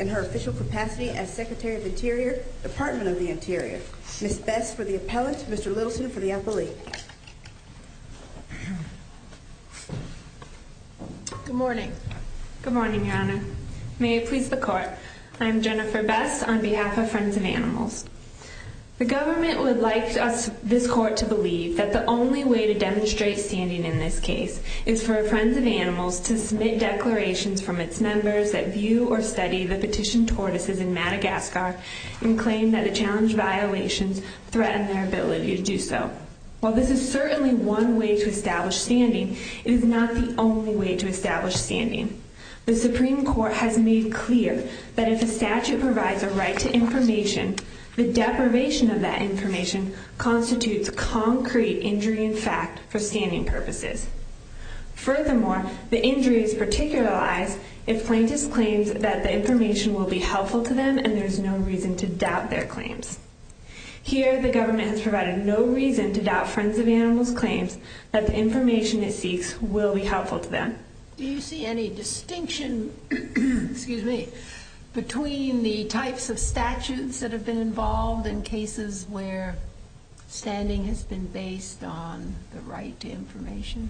and her official capacity as Secretary of the Interior, Department of the Interior. Ms. Bess for the appellant, Mr. Littleson for the appellate. Good morning. Good morning, Your Honor. May it please the Court, I am Jennifer Bess on behalf of Friends of Animals. The government would like us, this Court, to believe that the only way to demonstrate standing in this case is for Friends of Animals to submit declarations from its members that view or study the petitioned tortoises in Madagascar and claim that the challenged violations threaten their ability to do so. While this is certainly one way to establish standing, it is not the only way to establish standing. The Supreme Court has made clear that if a statute provides a right to information, the deprivation of that information constitutes concrete injury in fact for standing purposes. Furthermore, the injuries particularize if plaintiffs claim that the information will be helpful to them and there is no reason to doubt their claims. Here, the government has provided no reason to doubt Friends of Animals' claims that the information it seeks will be helpful to them. Do you see any distinction between the types of statutes that have been involved in cases where standing has been based on the right to information?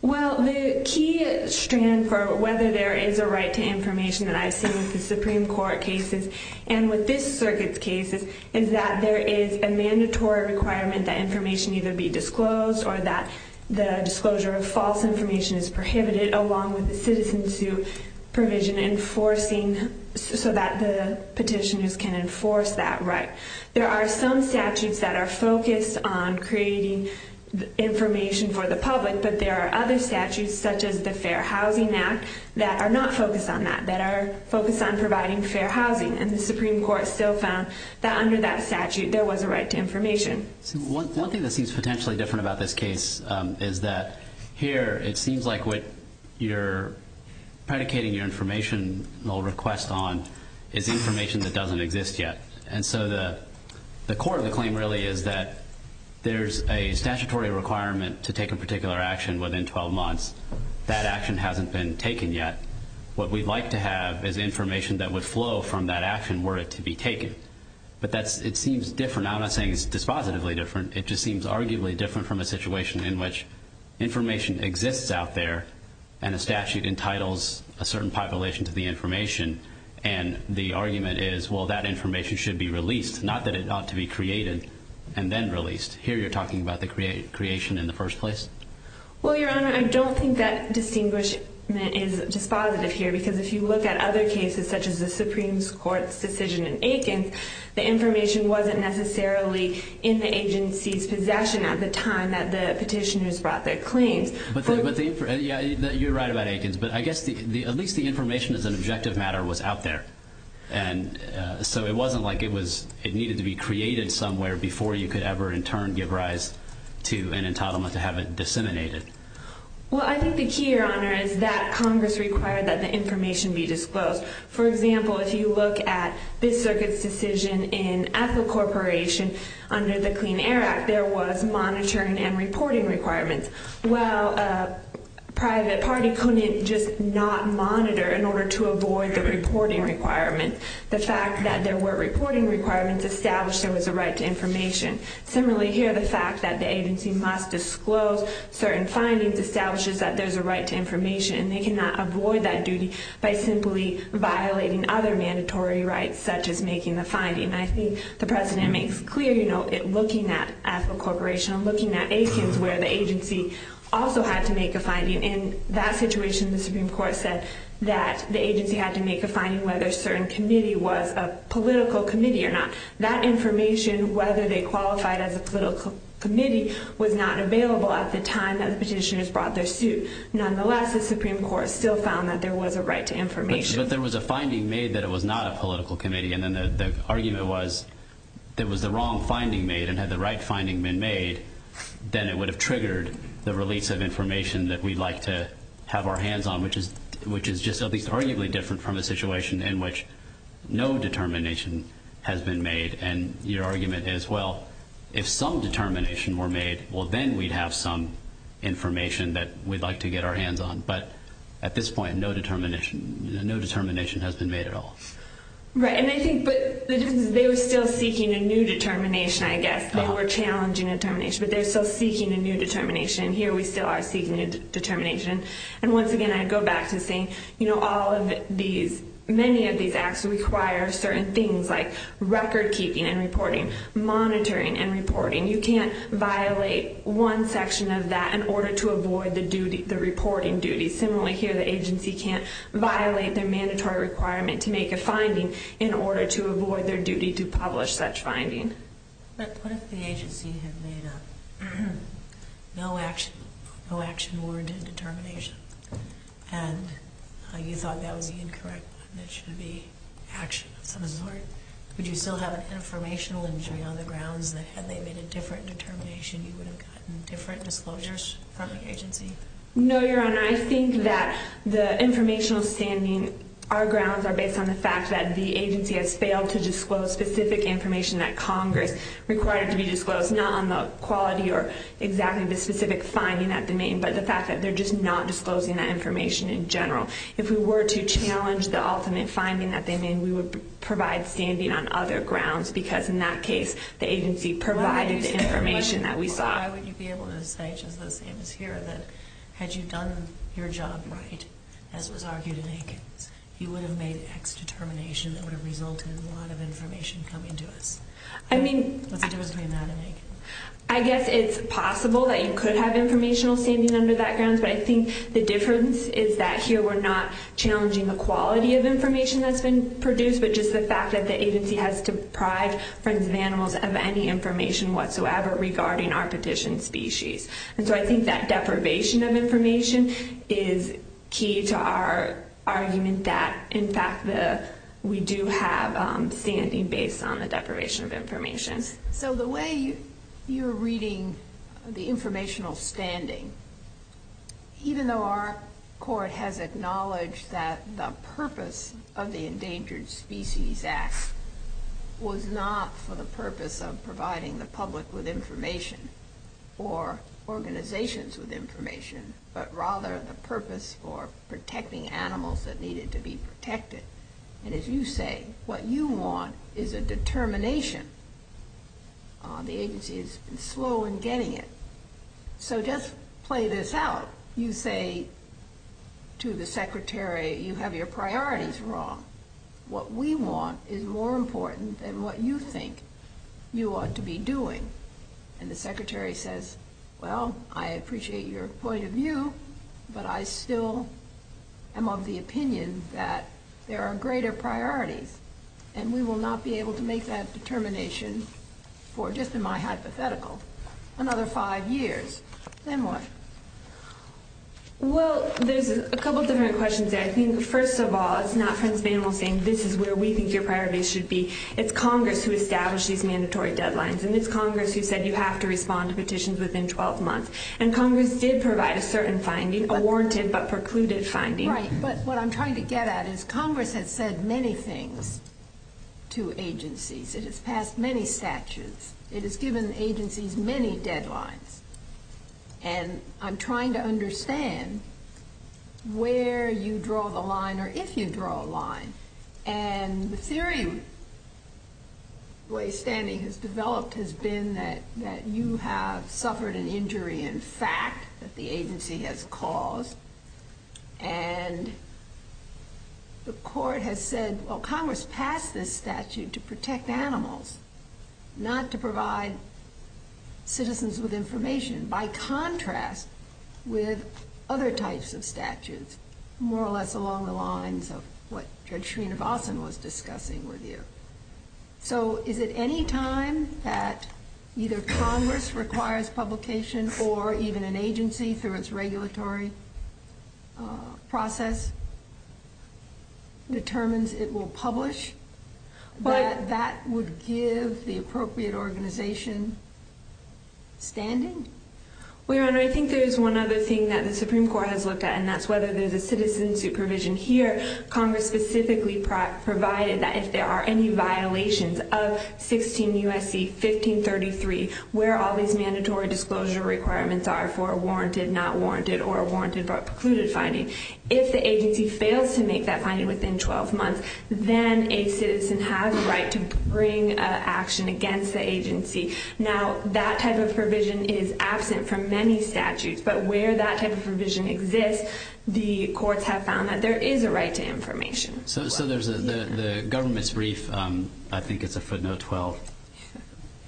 Well, the key strand for whether there is a right to information that I see with the Supreme Court cases and with this circuit's cases is that there is a mandatory requirement that information either be disclosed or that the disclosure of false information is prohibited, along with the citizen's provision enforcing so that the petitioners can enforce that right. There are some statutes that are focused on creating information for the public, but there are other statutes, such as the Fair Housing Act, that are not focused on that, that are focused on providing fair housing. And the Supreme Court still found that under that statute there was a right to information. One thing that seems potentially different about this case is that here it seems like what you're predicating your informational request on is information that doesn't exist yet. And so the core of the claim really is that there's a statutory requirement to take a particular action within 12 months. That action hasn't been taken yet. What we'd like to have is information that would flow from that action were it to be taken. But it seems different. I'm not saying it's dispositively different. It just seems arguably different from a situation in which information exists out there and a statute entitles a certain population to the information. And the argument is, well, that information should be released, not that it ought to be created and then released. Here you're talking about the creation in the first place. Well, Your Honor, I don't think that distinguishment is dispositive here, because if you look at other cases, such as the Supreme Court's decision in Aikens, the information wasn't necessarily in the agency's possession at the time that the petitioners brought their claims. You're right about Aikens, but I guess at least the information as an objective matter was out there. So it wasn't like it needed to be created somewhere before you could ever in turn give rise to an entitlement to have it disseminated. Well, I think the key, Your Honor, is that Congress required that the information be disclosed. For example, if you look at this circuit's decision in Ethel Corporation under the Clean Air Act, there was monitoring and reporting requirements. Well, a private party couldn't just not monitor in order to avoid the reporting requirements. The fact that there were reporting requirements established there was a right to information. Similarly, here the fact that the agency must disclose certain findings establishes that there's a right to information, and they cannot avoid that duty by simply violating other mandatory rights, such as making the finding. I think the President makes it clear looking at Ethel Corporation and looking at Aikens and in that situation the Supreme Court said that the agency had to make a finding whether a certain committee was a political committee or not. That information, whether they qualified as a political committee, was not available at the time that the petitioners brought their suit. Nonetheless, the Supreme Court still found that there was a right to information. But there was a finding made that it was not a political committee, and then the argument was that if there was the wrong finding made and had the right finding been made, then it would have triggered the release of information that we'd like to have our hands on, which is just arguably different from a situation in which no determination has been made. And your argument is, well, if some determination were made, well, then we'd have some information that we'd like to get our hands on. But at this point, no determination has been made at all. Right, and I think the difference is they were still seeking a new determination, I guess. They were challenging a determination, but they were still seeking a new determination, and here we still are seeking a new determination. And once again, I go back to saying all of these, many of these acts require certain things like record keeping and reporting, monitoring and reporting. You can't violate one section of that in order to avoid the reporting duty. Similarly, here the agency can't violate their mandatory requirement to make a finding in order to avoid their duty to publish such finding. But what if the agency had made a no-action word determination and you thought that was incorrect and it should be action of some sort? Would you still have an informational injury on the grounds that had they made a different determination you would have gotten different disclosures from the agency? No, Your Honor. I think that the informational standing, our grounds are based on the fact that the agency has failed to disclose specific information that Congress required to be disclosed, not on the quality or exactly the specific finding that they made, but the fact that they're just not disclosing that information in general. If we were to challenge the ultimate finding that they made, we would provide standing on other grounds because in that case the agency provided the information that we saw. Why would you be able to say, just the same as here, that had you done your job right, as was argued in Aikens, you would have made X determination that would have resulted in a lot of information coming to us? What's the difference between that and Aikens? I guess it's possible that you could have informational standing under that grounds, but I think the difference is that here we're not challenging the quality of information that's been produced, but just the fact that the agency has deprived Friends of Animals of any information whatsoever regarding our petition species. And so I think that deprivation of information is key to our argument that in fact we do have standing based on the deprivation of information. So the way you're reading the informational standing, even though our court has acknowledged that the purpose of the Endangered Species Act was not for the purpose of providing the public with information or organizations with information, but rather the purpose for protecting animals that needed to be protected. And as you say, what you want is a determination. The agency has been slow in getting it. So just play this out. You say to the Secretary, you have your priorities wrong. What we want is more important than what you think you ought to be doing. And the Secretary says, well, I appreciate your point of view, but I still am of the opinion that there are greater priorities and we will not be able to make that determination for, just in my hypothetical, another five years. Then what? Well, there's a couple different questions there. I think first of all, it's not Friends of Animals saying this is where we think your priorities should be. It's Congress who established these mandatory deadlines and it's Congress who said you have to respond to petitions within 12 months. And Congress did provide a certain finding, a warranted but precluded finding. Right, but what I'm trying to get at is Congress has said many things to agencies. It has passed many statutes. It has given agencies many deadlines. And I'm trying to understand where you draw the line or if you draw a line. And the theory, the way standing has developed, has been that you have suffered an injury in fact that the agency has caused. And the court has said, well, Congress passed this statute to protect animals, not to provide citizens with information, by contrast with other types of statutes, which is more or less along the lines of what Judge Srinivasan was discussing with you. So is it any time that either Congress requires publication or even an agency through its regulatory process determines it will publish, that that would give the appropriate organization standing? Well, Your Honor, I think there's one other thing that the Supreme Court has looked at, and that's whether there's a citizen supervision here. Congress specifically provided that if there are any violations of 16 U.S.C. 1533, where all these mandatory disclosure requirements are for a warranted, not warranted, or a warranted but precluded finding, if the agency fails to make that finding within 12 months, then a citizen has a right to bring action against the agency. Now, that type of provision is absent from many statutes, but where that type of provision exists, the courts have found that there is a right to information. So there's the government's brief, I think it's a footnote 12,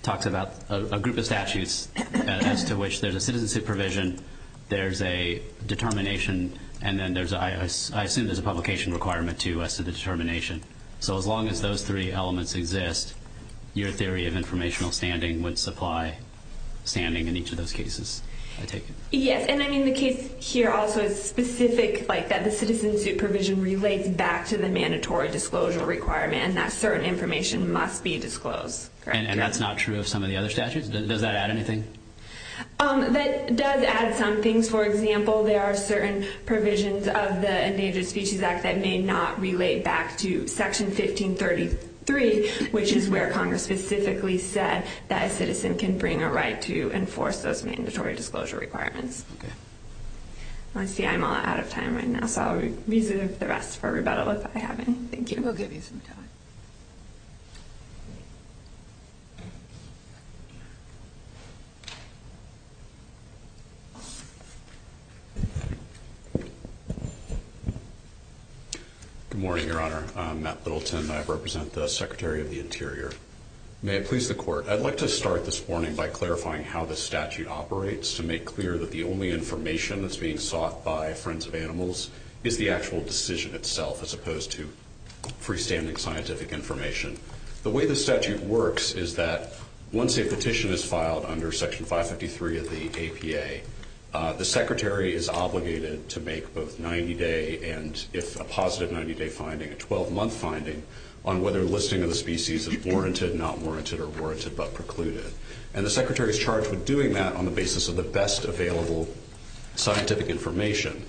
talks about a group of statutes as to which there's a citizen supervision, there's a determination, and then I assume there's a publication requirement to U.S.C. determination. So as long as those three elements exist, your theory of informational standing would supply standing in each of those cases, I take it? Yes, and I mean the case here also is specific, like that the citizen supervision relates back to the mandatory disclosure requirement and that certain information must be disclosed, correct? And that's not true of some of the other statutes? Does that add anything? That does add some things. For example, there are certain provisions of the Endangered Species Act that may not relate back to Section 1533, which is where Congress specifically said that a citizen can bring a right to enforce those mandatory disclosure requirements. I see I'm all out of time right now, so I'll reserve the rest for rebuttal if I have any. Thank you. We'll give you some time. Good morning, Your Honor. I'm Matt Littleton. I represent the Secretary of the Interior. May it please the Court, I'd like to start this morning by clarifying how the statute operates to make clear that the only information that's being sought by friends of animals is the actual decision itself as opposed to freestanding scientific information. The way the statute works is that once a petition is filed under Section 553 of the APA, the Secretary is obligated to make both 90-day and, if a positive 90-day finding, a 12-month finding on whether listing of the species is warranted, not warranted, or warranted but precluded. And the Secretary is charged with doing that on the basis of the best available scientific information.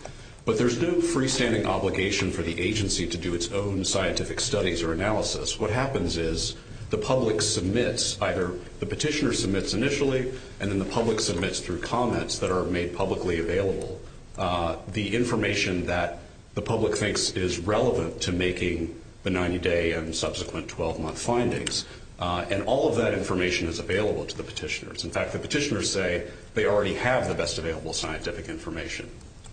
But there's no freestanding obligation for the agency to do its own scientific studies or analysis. What happens is the public submits, either the petitioner submits initially and then the public submits through comments that are made publicly available, the information that the public thinks is relevant to making the 90-day and subsequent 12-month findings. And all of that information is available to the petitioners. In fact, the petitioners say they already have the best available scientific information.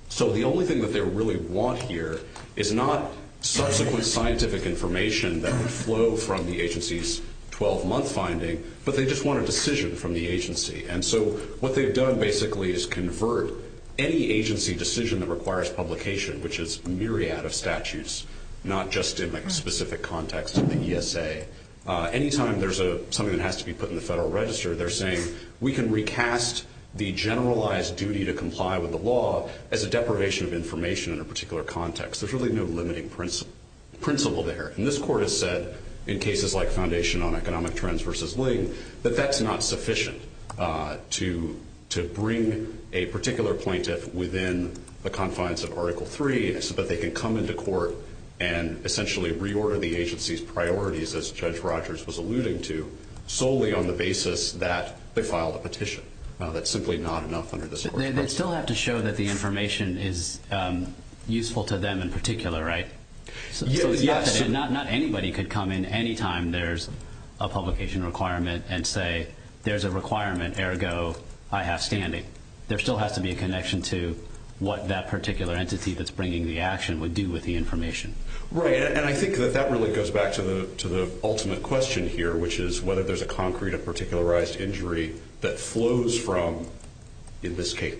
So the only thing that they really want here is not subsequent scientific information that would flow from the agency's 12-month finding, but they just want a decision from the agency. And so what they've done basically is convert any agency decision that requires publication, which is a myriad of statutes, not just in the specific context of the ESA. Anytime there's something that has to be put in the Federal Register, they're saying we can recast the generalized duty to comply with the law as a deprivation of information in a particular context. There's really no limiting principle there. And this court has said in cases like Foundation on Economic Trends v. Ling that that's not sufficient to bring a particular plaintiff within the confines of Article III so that they can come into court and essentially reorder the agency's priorities, as Judge Rogers was alluding to, solely on the basis that they filed a petition. That's simply not enough under this court's pressure. They still have to show that the information is useful to them in particular, right? Yes. Not anybody could come in anytime there's a publication requirement and say there's a requirement, ergo, I have standing. There still has to be a connection to what that particular entity that's bringing the action would do with the information. Right. And I think that that really goes back to the ultimate question here, which is whether there's a concrete or particularized injury that flows from, in this case,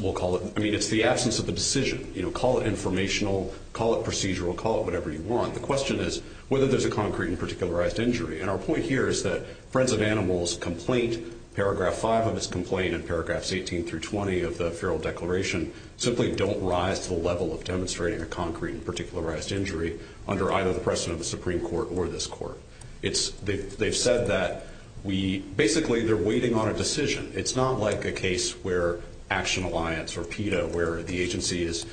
we'll call it, I mean, it's the absence of the decision. You know, call it informational, call it procedural, call it whatever you want. The question is whether there's a concrete and particularized injury. And our point here is that Friends of Animals' complaint, Paragraph 5 of its complaint and Paragraphs 18 through 20 of the feral declaration simply don't rise to the level of demonstrating a concrete and particularized injury under either the precedent of the Supreme Court or this court. They've said that basically they're waiting on a decision. It's not like a case where Action Alliance or PETA, where the agency is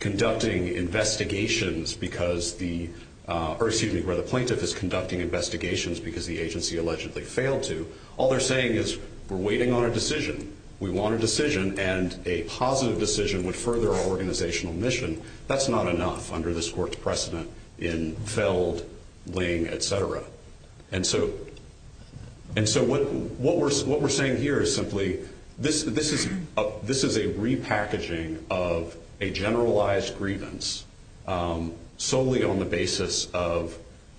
conducting investigations because the, or excuse me, where the plaintiff is conducting investigations because the agency allegedly failed to. All they're saying is we're waiting on a decision, we want a decision, and a positive decision would further our organizational mission. That's not enough under this court's precedent in Feld, Ling, et cetera. And so what we're saying here is simply this is a repackaging of a generalized grievance solely on the basis of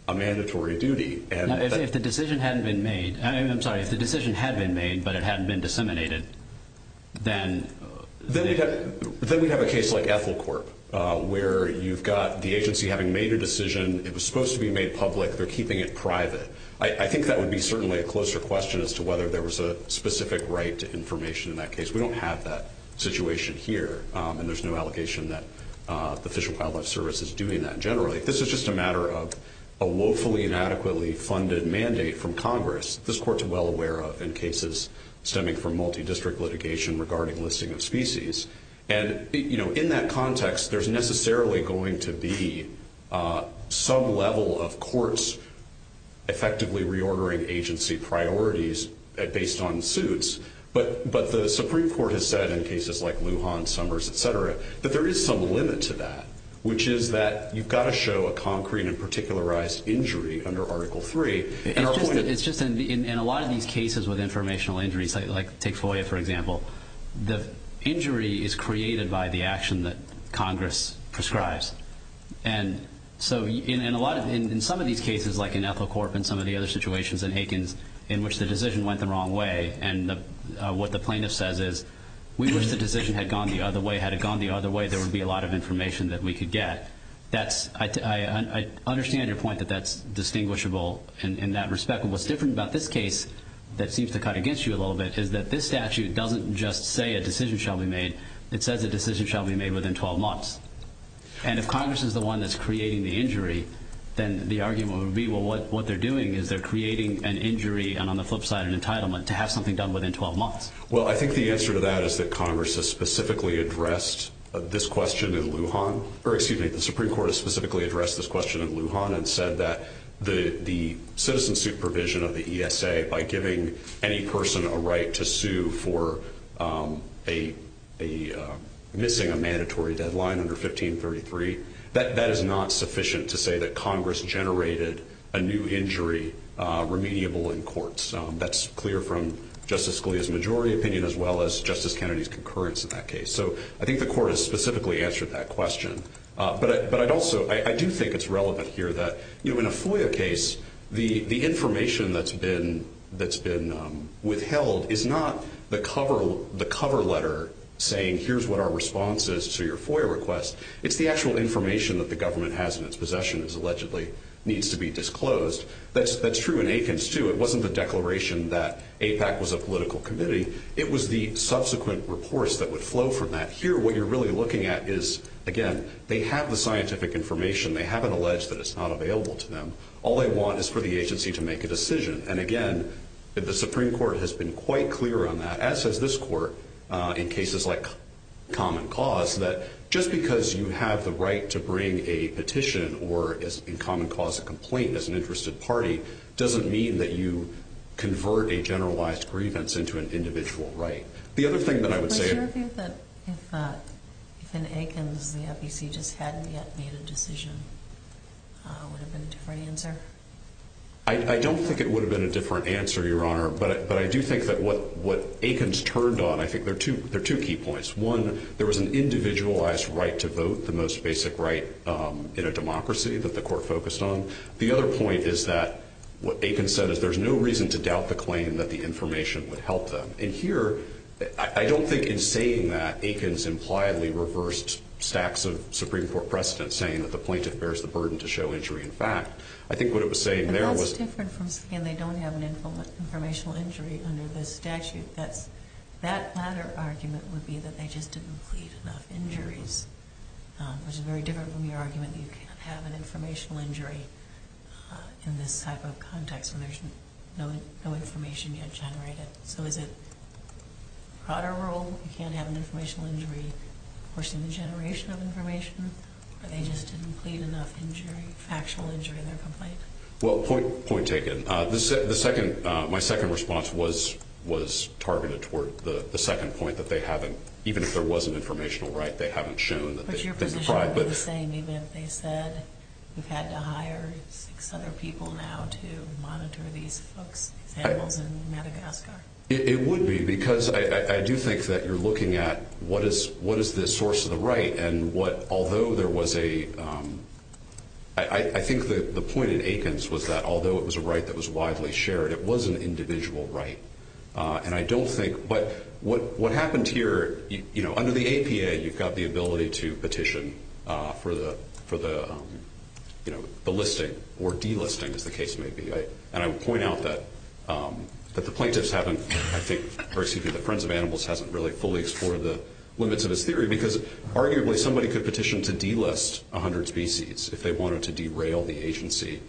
a mandatory duty. If the decision hadn't been made, I'm sorry, if the decision had been made but it hadn't been disseminated, then? Then we'd have a case like Ethel Corp. where you've got the agency having made a decision, it was supposed to be made public, they're keeping it private. I think that would be certainly a closer question as to whether there was a specific right to information in that case. We don't have that situation here, and there's no allegation that the Fish and Wildlife Service is doing that generally. This is just a matter of a woefully inadequately funded mandate from Congress. This court's well aware of in cases stemming from multi-district litigation regarding listing of species. In that context, there's necessarily going to be some level of courts effectively reordering agency priorities based on suits, but the Supreme Court has said in cases like Lujan, Summers, et cetera, that there is some limit to that, which is that you've got to show a concrete and particularized injury under Article III. It's just in a lot of these cases with informational injuries, like take FOIA, for example, the injury is created by the action that Congress prescribes. In some of these cases, like in Ethelcorp and some of the other situations in Higgins, in which the decision went the wrong way, and what the plaintiff says is, we wish the decision had gone the other way. Had it gone the other way, there would be a lot of information that we could get. I understand your point that that's distinguishable in that respect. And what's different about this case that seems to cut against you a little bit is that this statute doesn't just say a decision shall be made. It says a decision shall be made within 12 months. And if Congress is the one that's creating the injury, then the argument would be, well, what they're doing is they're creating an injury and on the flip side an entitlement to have something done within 12 months. Well, I think the answer to that is that Congress has specifically addressed this question in Lujan, or excuse me, the Supreme Court has specifically addressed this question in Lujan and said that the citizen supervision of the ESA, by giving any person a right to sue for missing a mandatory deadline under 1533, that is not sufficient to say that Congress generated a new injury remediable in courts. That's clear from Justice Scalia's majority opinion, as well as Justice Kennedy's concurrence in that case. So I think the court has specifically answered that question. But I'd also, I do think it's relevant here that, you know, in a FOIA case, the information that's been withheld is not the cover letter saying, here's what our response is to your FOIA request. It's the actual information that the government has in its possession that allegedly needs to be disclosed. That's true in Aikens, too. It wasn't the declaration that AIPAC was a political committee. It was the subsequent reports that would flow from that. Here, what you're really looking at is, again, they have the scientific information. They haven't alleged that it's not available to them. All they want is for the agency to make a decision. And, again, the Supreme Court has been quite clear on that, as has this court in cases like common cause, that just because you have the right to bring a petition or, in common cause, a complaint as an interested party, doesn't mean that you convert a generalized grievance into an individual right. The other thing that I would say – But your view that if in Aikens the FEC just hadn't yet made a decision, would it have been a different answer? I don't think it would have been a different answer, Your Honor, but I do think that what Aikens turned on, I think there are two key points. One, there was an individualized right to vote, the most basic right in a democracy that the court focused on. The other point is that what Aikens said is there's no reason to doubt the claim that the information would help them. And here, I don't think in saying that, Aikens impliedly reversed stacks of Supreme Court precedent, saying that the plaintiff bears the burden to show injury in fact. I think what it was saying there was – But that's different from saying they don't have an informational injury under the statute. That latter argument would be that they just didn't plead enough injuries, which is very different from your argument that you can't have an informational injury in this type of context when there's no information yet generated. So is it a broader rule you can't have an informational injury forcing the generation of information, or they just didn't plead enough injury, factual injury in their complaint? Well, point taken. The second – my second response was targeted toward the second point, that they haven't – even if there was an informational right, they haven't shown that they – But your position would be the same even if they said that we've had to hire six other people now to monitor these folks, these animals in Madagascar? It would be, because I do think that you're looking at what is the source of the right, and what – although there was a – I think the point at Aikens was that although it was a right that was widely shared, it was an individual right. And I don't think – but what happened here – under the APA, you've got the ability to petition for the listing or delisting, as the case may be. And I would point out that the plaintiffs haven't – I think – or excuse me, the Friends of Animals hasn't really fully explored the limits of this theory, because arguably somebody could petition to delist 100 species if they wanted to derail the agency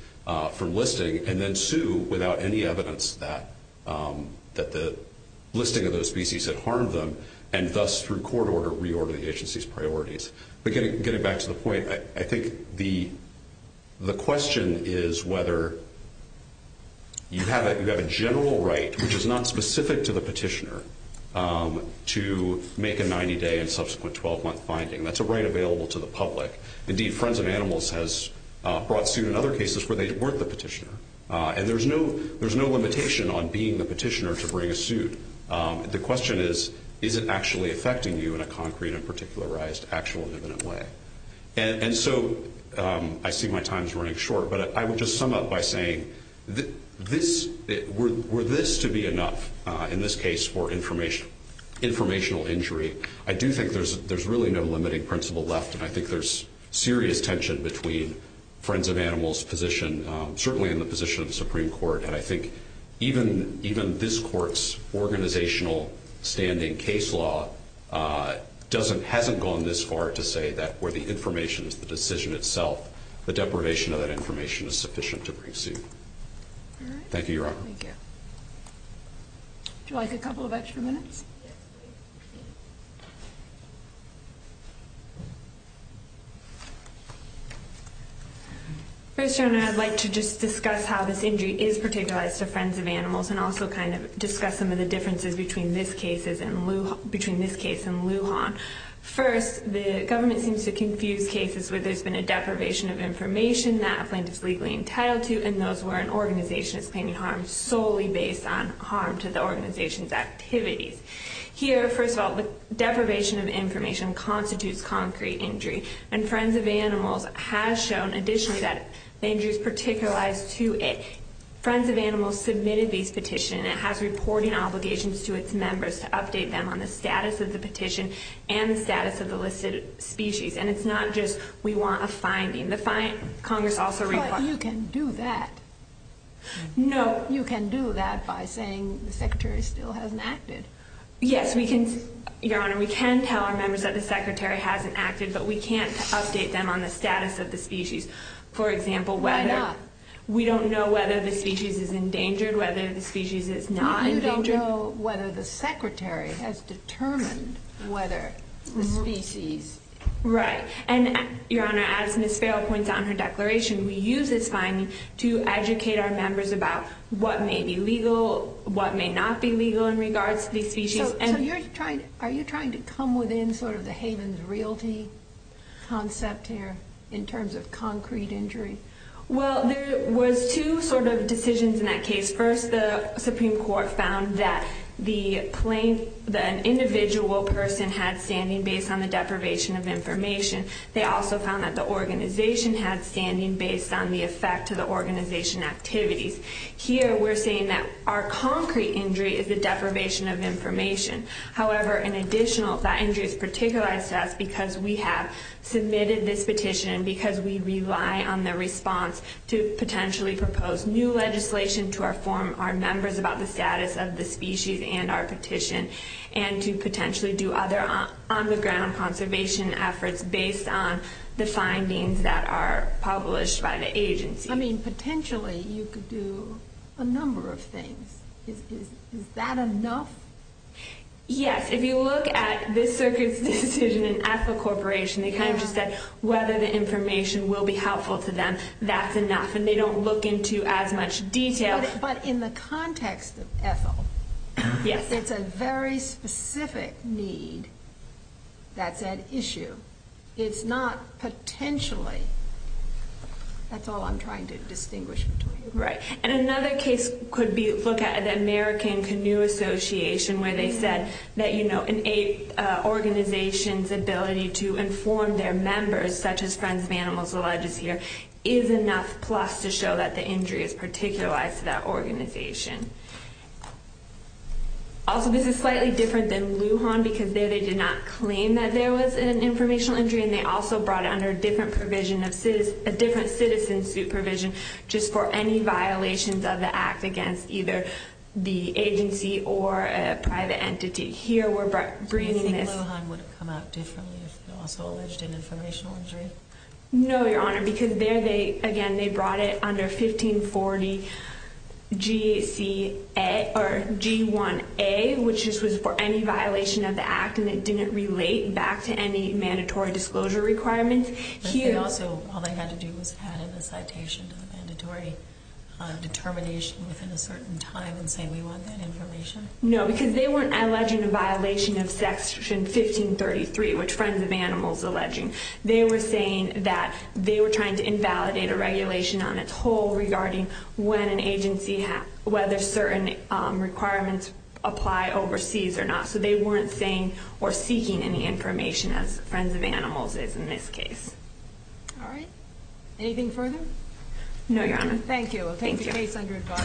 from listing and then sue without any evidence that the listing of those species had harmed them, and thus, through court order, reorder the agency's priorities. But getting back to the point, I think the question is whether you have a general right, which is not specific to the petitioner, to make a 90-day and subsequent 12-month finding. That's a right available to the public. Indeed, Friends of Animals has brought suit in other cases where they weren't the petitioner. And there's no limitation on being the petitioner to bring a suit. The question is, is it actually affecting you in a concrete and particularized, actual and imminent way? And so I see my time's running short, but I would just sum up by saying were this to be enough in this case for informational injury, I do think there's really no limiting principle left, and I think there's serious tension between Friends of Animals' position, certainly in the position of the Supreme Court, and I think even this court's organizational standing case law hasn't gone this far to say that where the information is the decision itself, the deprivation of that information is sufficient to bring suit. Thank you, Your Honor. Would you like a couple of extra minutes? Yes, please. First, Your Honor, I'd like to just discuss how this injury is particularized to Friends of Animals and also kind of discuss some of the differences between this case and Lujan. First, the government seems to confuse cases where there's been a deprivation of information that a plaintiff's legally entitled to and those where an organization is paying harm to the organization's activities. Here, first of all, the deprivation of information constitutes concrete injury, and Friends of Animals has shown additionally that the injury is particularized to it. Friends of Animals submitted this petition and it has reporting obligations to its members to update them on the status of the petition and the status of the listed species, and it's not just we want a finding. But you can do that. You can do that by saying the Secretary still hasn't acted. Yes, Your Honor, we can tell our members that the Secretary hasn't acted, but we can't update them on the status of the species. Why not? We don't know whether the species is endangered, whether the species is not endangered. You don't know whether the Secretary has determined whether the species... Right, and Your Honor, as Ms. Farrell points out in her declaration, we use this finding to educate our members about what may be legal, what may not be legal in regards to these species. So are you trying to come within sort of the Havens Realty concept here in terms of concrete injury? Well, there was two sort of decisions in that case. First, the Supreme Court found that an individual person had standing based on the deprivation of information. They also found that the organization had standing based on the effect to the organization activities. Here we're saying that our concrete injury is the deprivation of information. However, in addition, that injury is particularized to us because we have submitted this petition and because we rely on the response to potentially propose new legislation to our members about the status of the species and our petition and to potentially do other on-the-ground conservation efforts based on the findings that are published by the agency. I mean, potentially you could do a number of things. Is that enough? Yes. If you look at this circuit's decision in Ethel Corporation, they kind of just said whether the information will be helpful to them, that's enough, and they don't look into as much detail. But in the context of Ethel, it's a very specific need that's at issue. It's not potentially. That's all I'm trying to distinguish between. Right. And another case could look at the American Canoe Association where they said that an organization's ability to inform their members, such as Friends of Animals, the legislature, is enough plus to show that the injury is particularized to that organization. Also, this is slightly different than Lujan because there they did not claim that there was an informational injury and they also brought it under a different citizen supervision just for any violations of the act against either the agency or a private entity. Here we're bringing this. Do you think Lujan would have come out differently if they also alleged an informational injury? No, Your Honor, because there they, again, they brought it under 1540 G1A, which was for any violation of the act and it didn't relate back to any mandatory disclosure requirements. But they also, all they had to do was add in a citation to the mandatory determination within a certain time and say we want that information? No, because they weren't alleging a violation of Section 1533, which Friends of Animals is alleging. They were saying that they were trying to invalidate a regulation on its whole regarding whether certain requirements apply overseas or not. So they weren't saying or seeking any information as Friends of Animals is in this case. All right. Anything further? No, Your Honor. Thank you. We'll take the case under regard.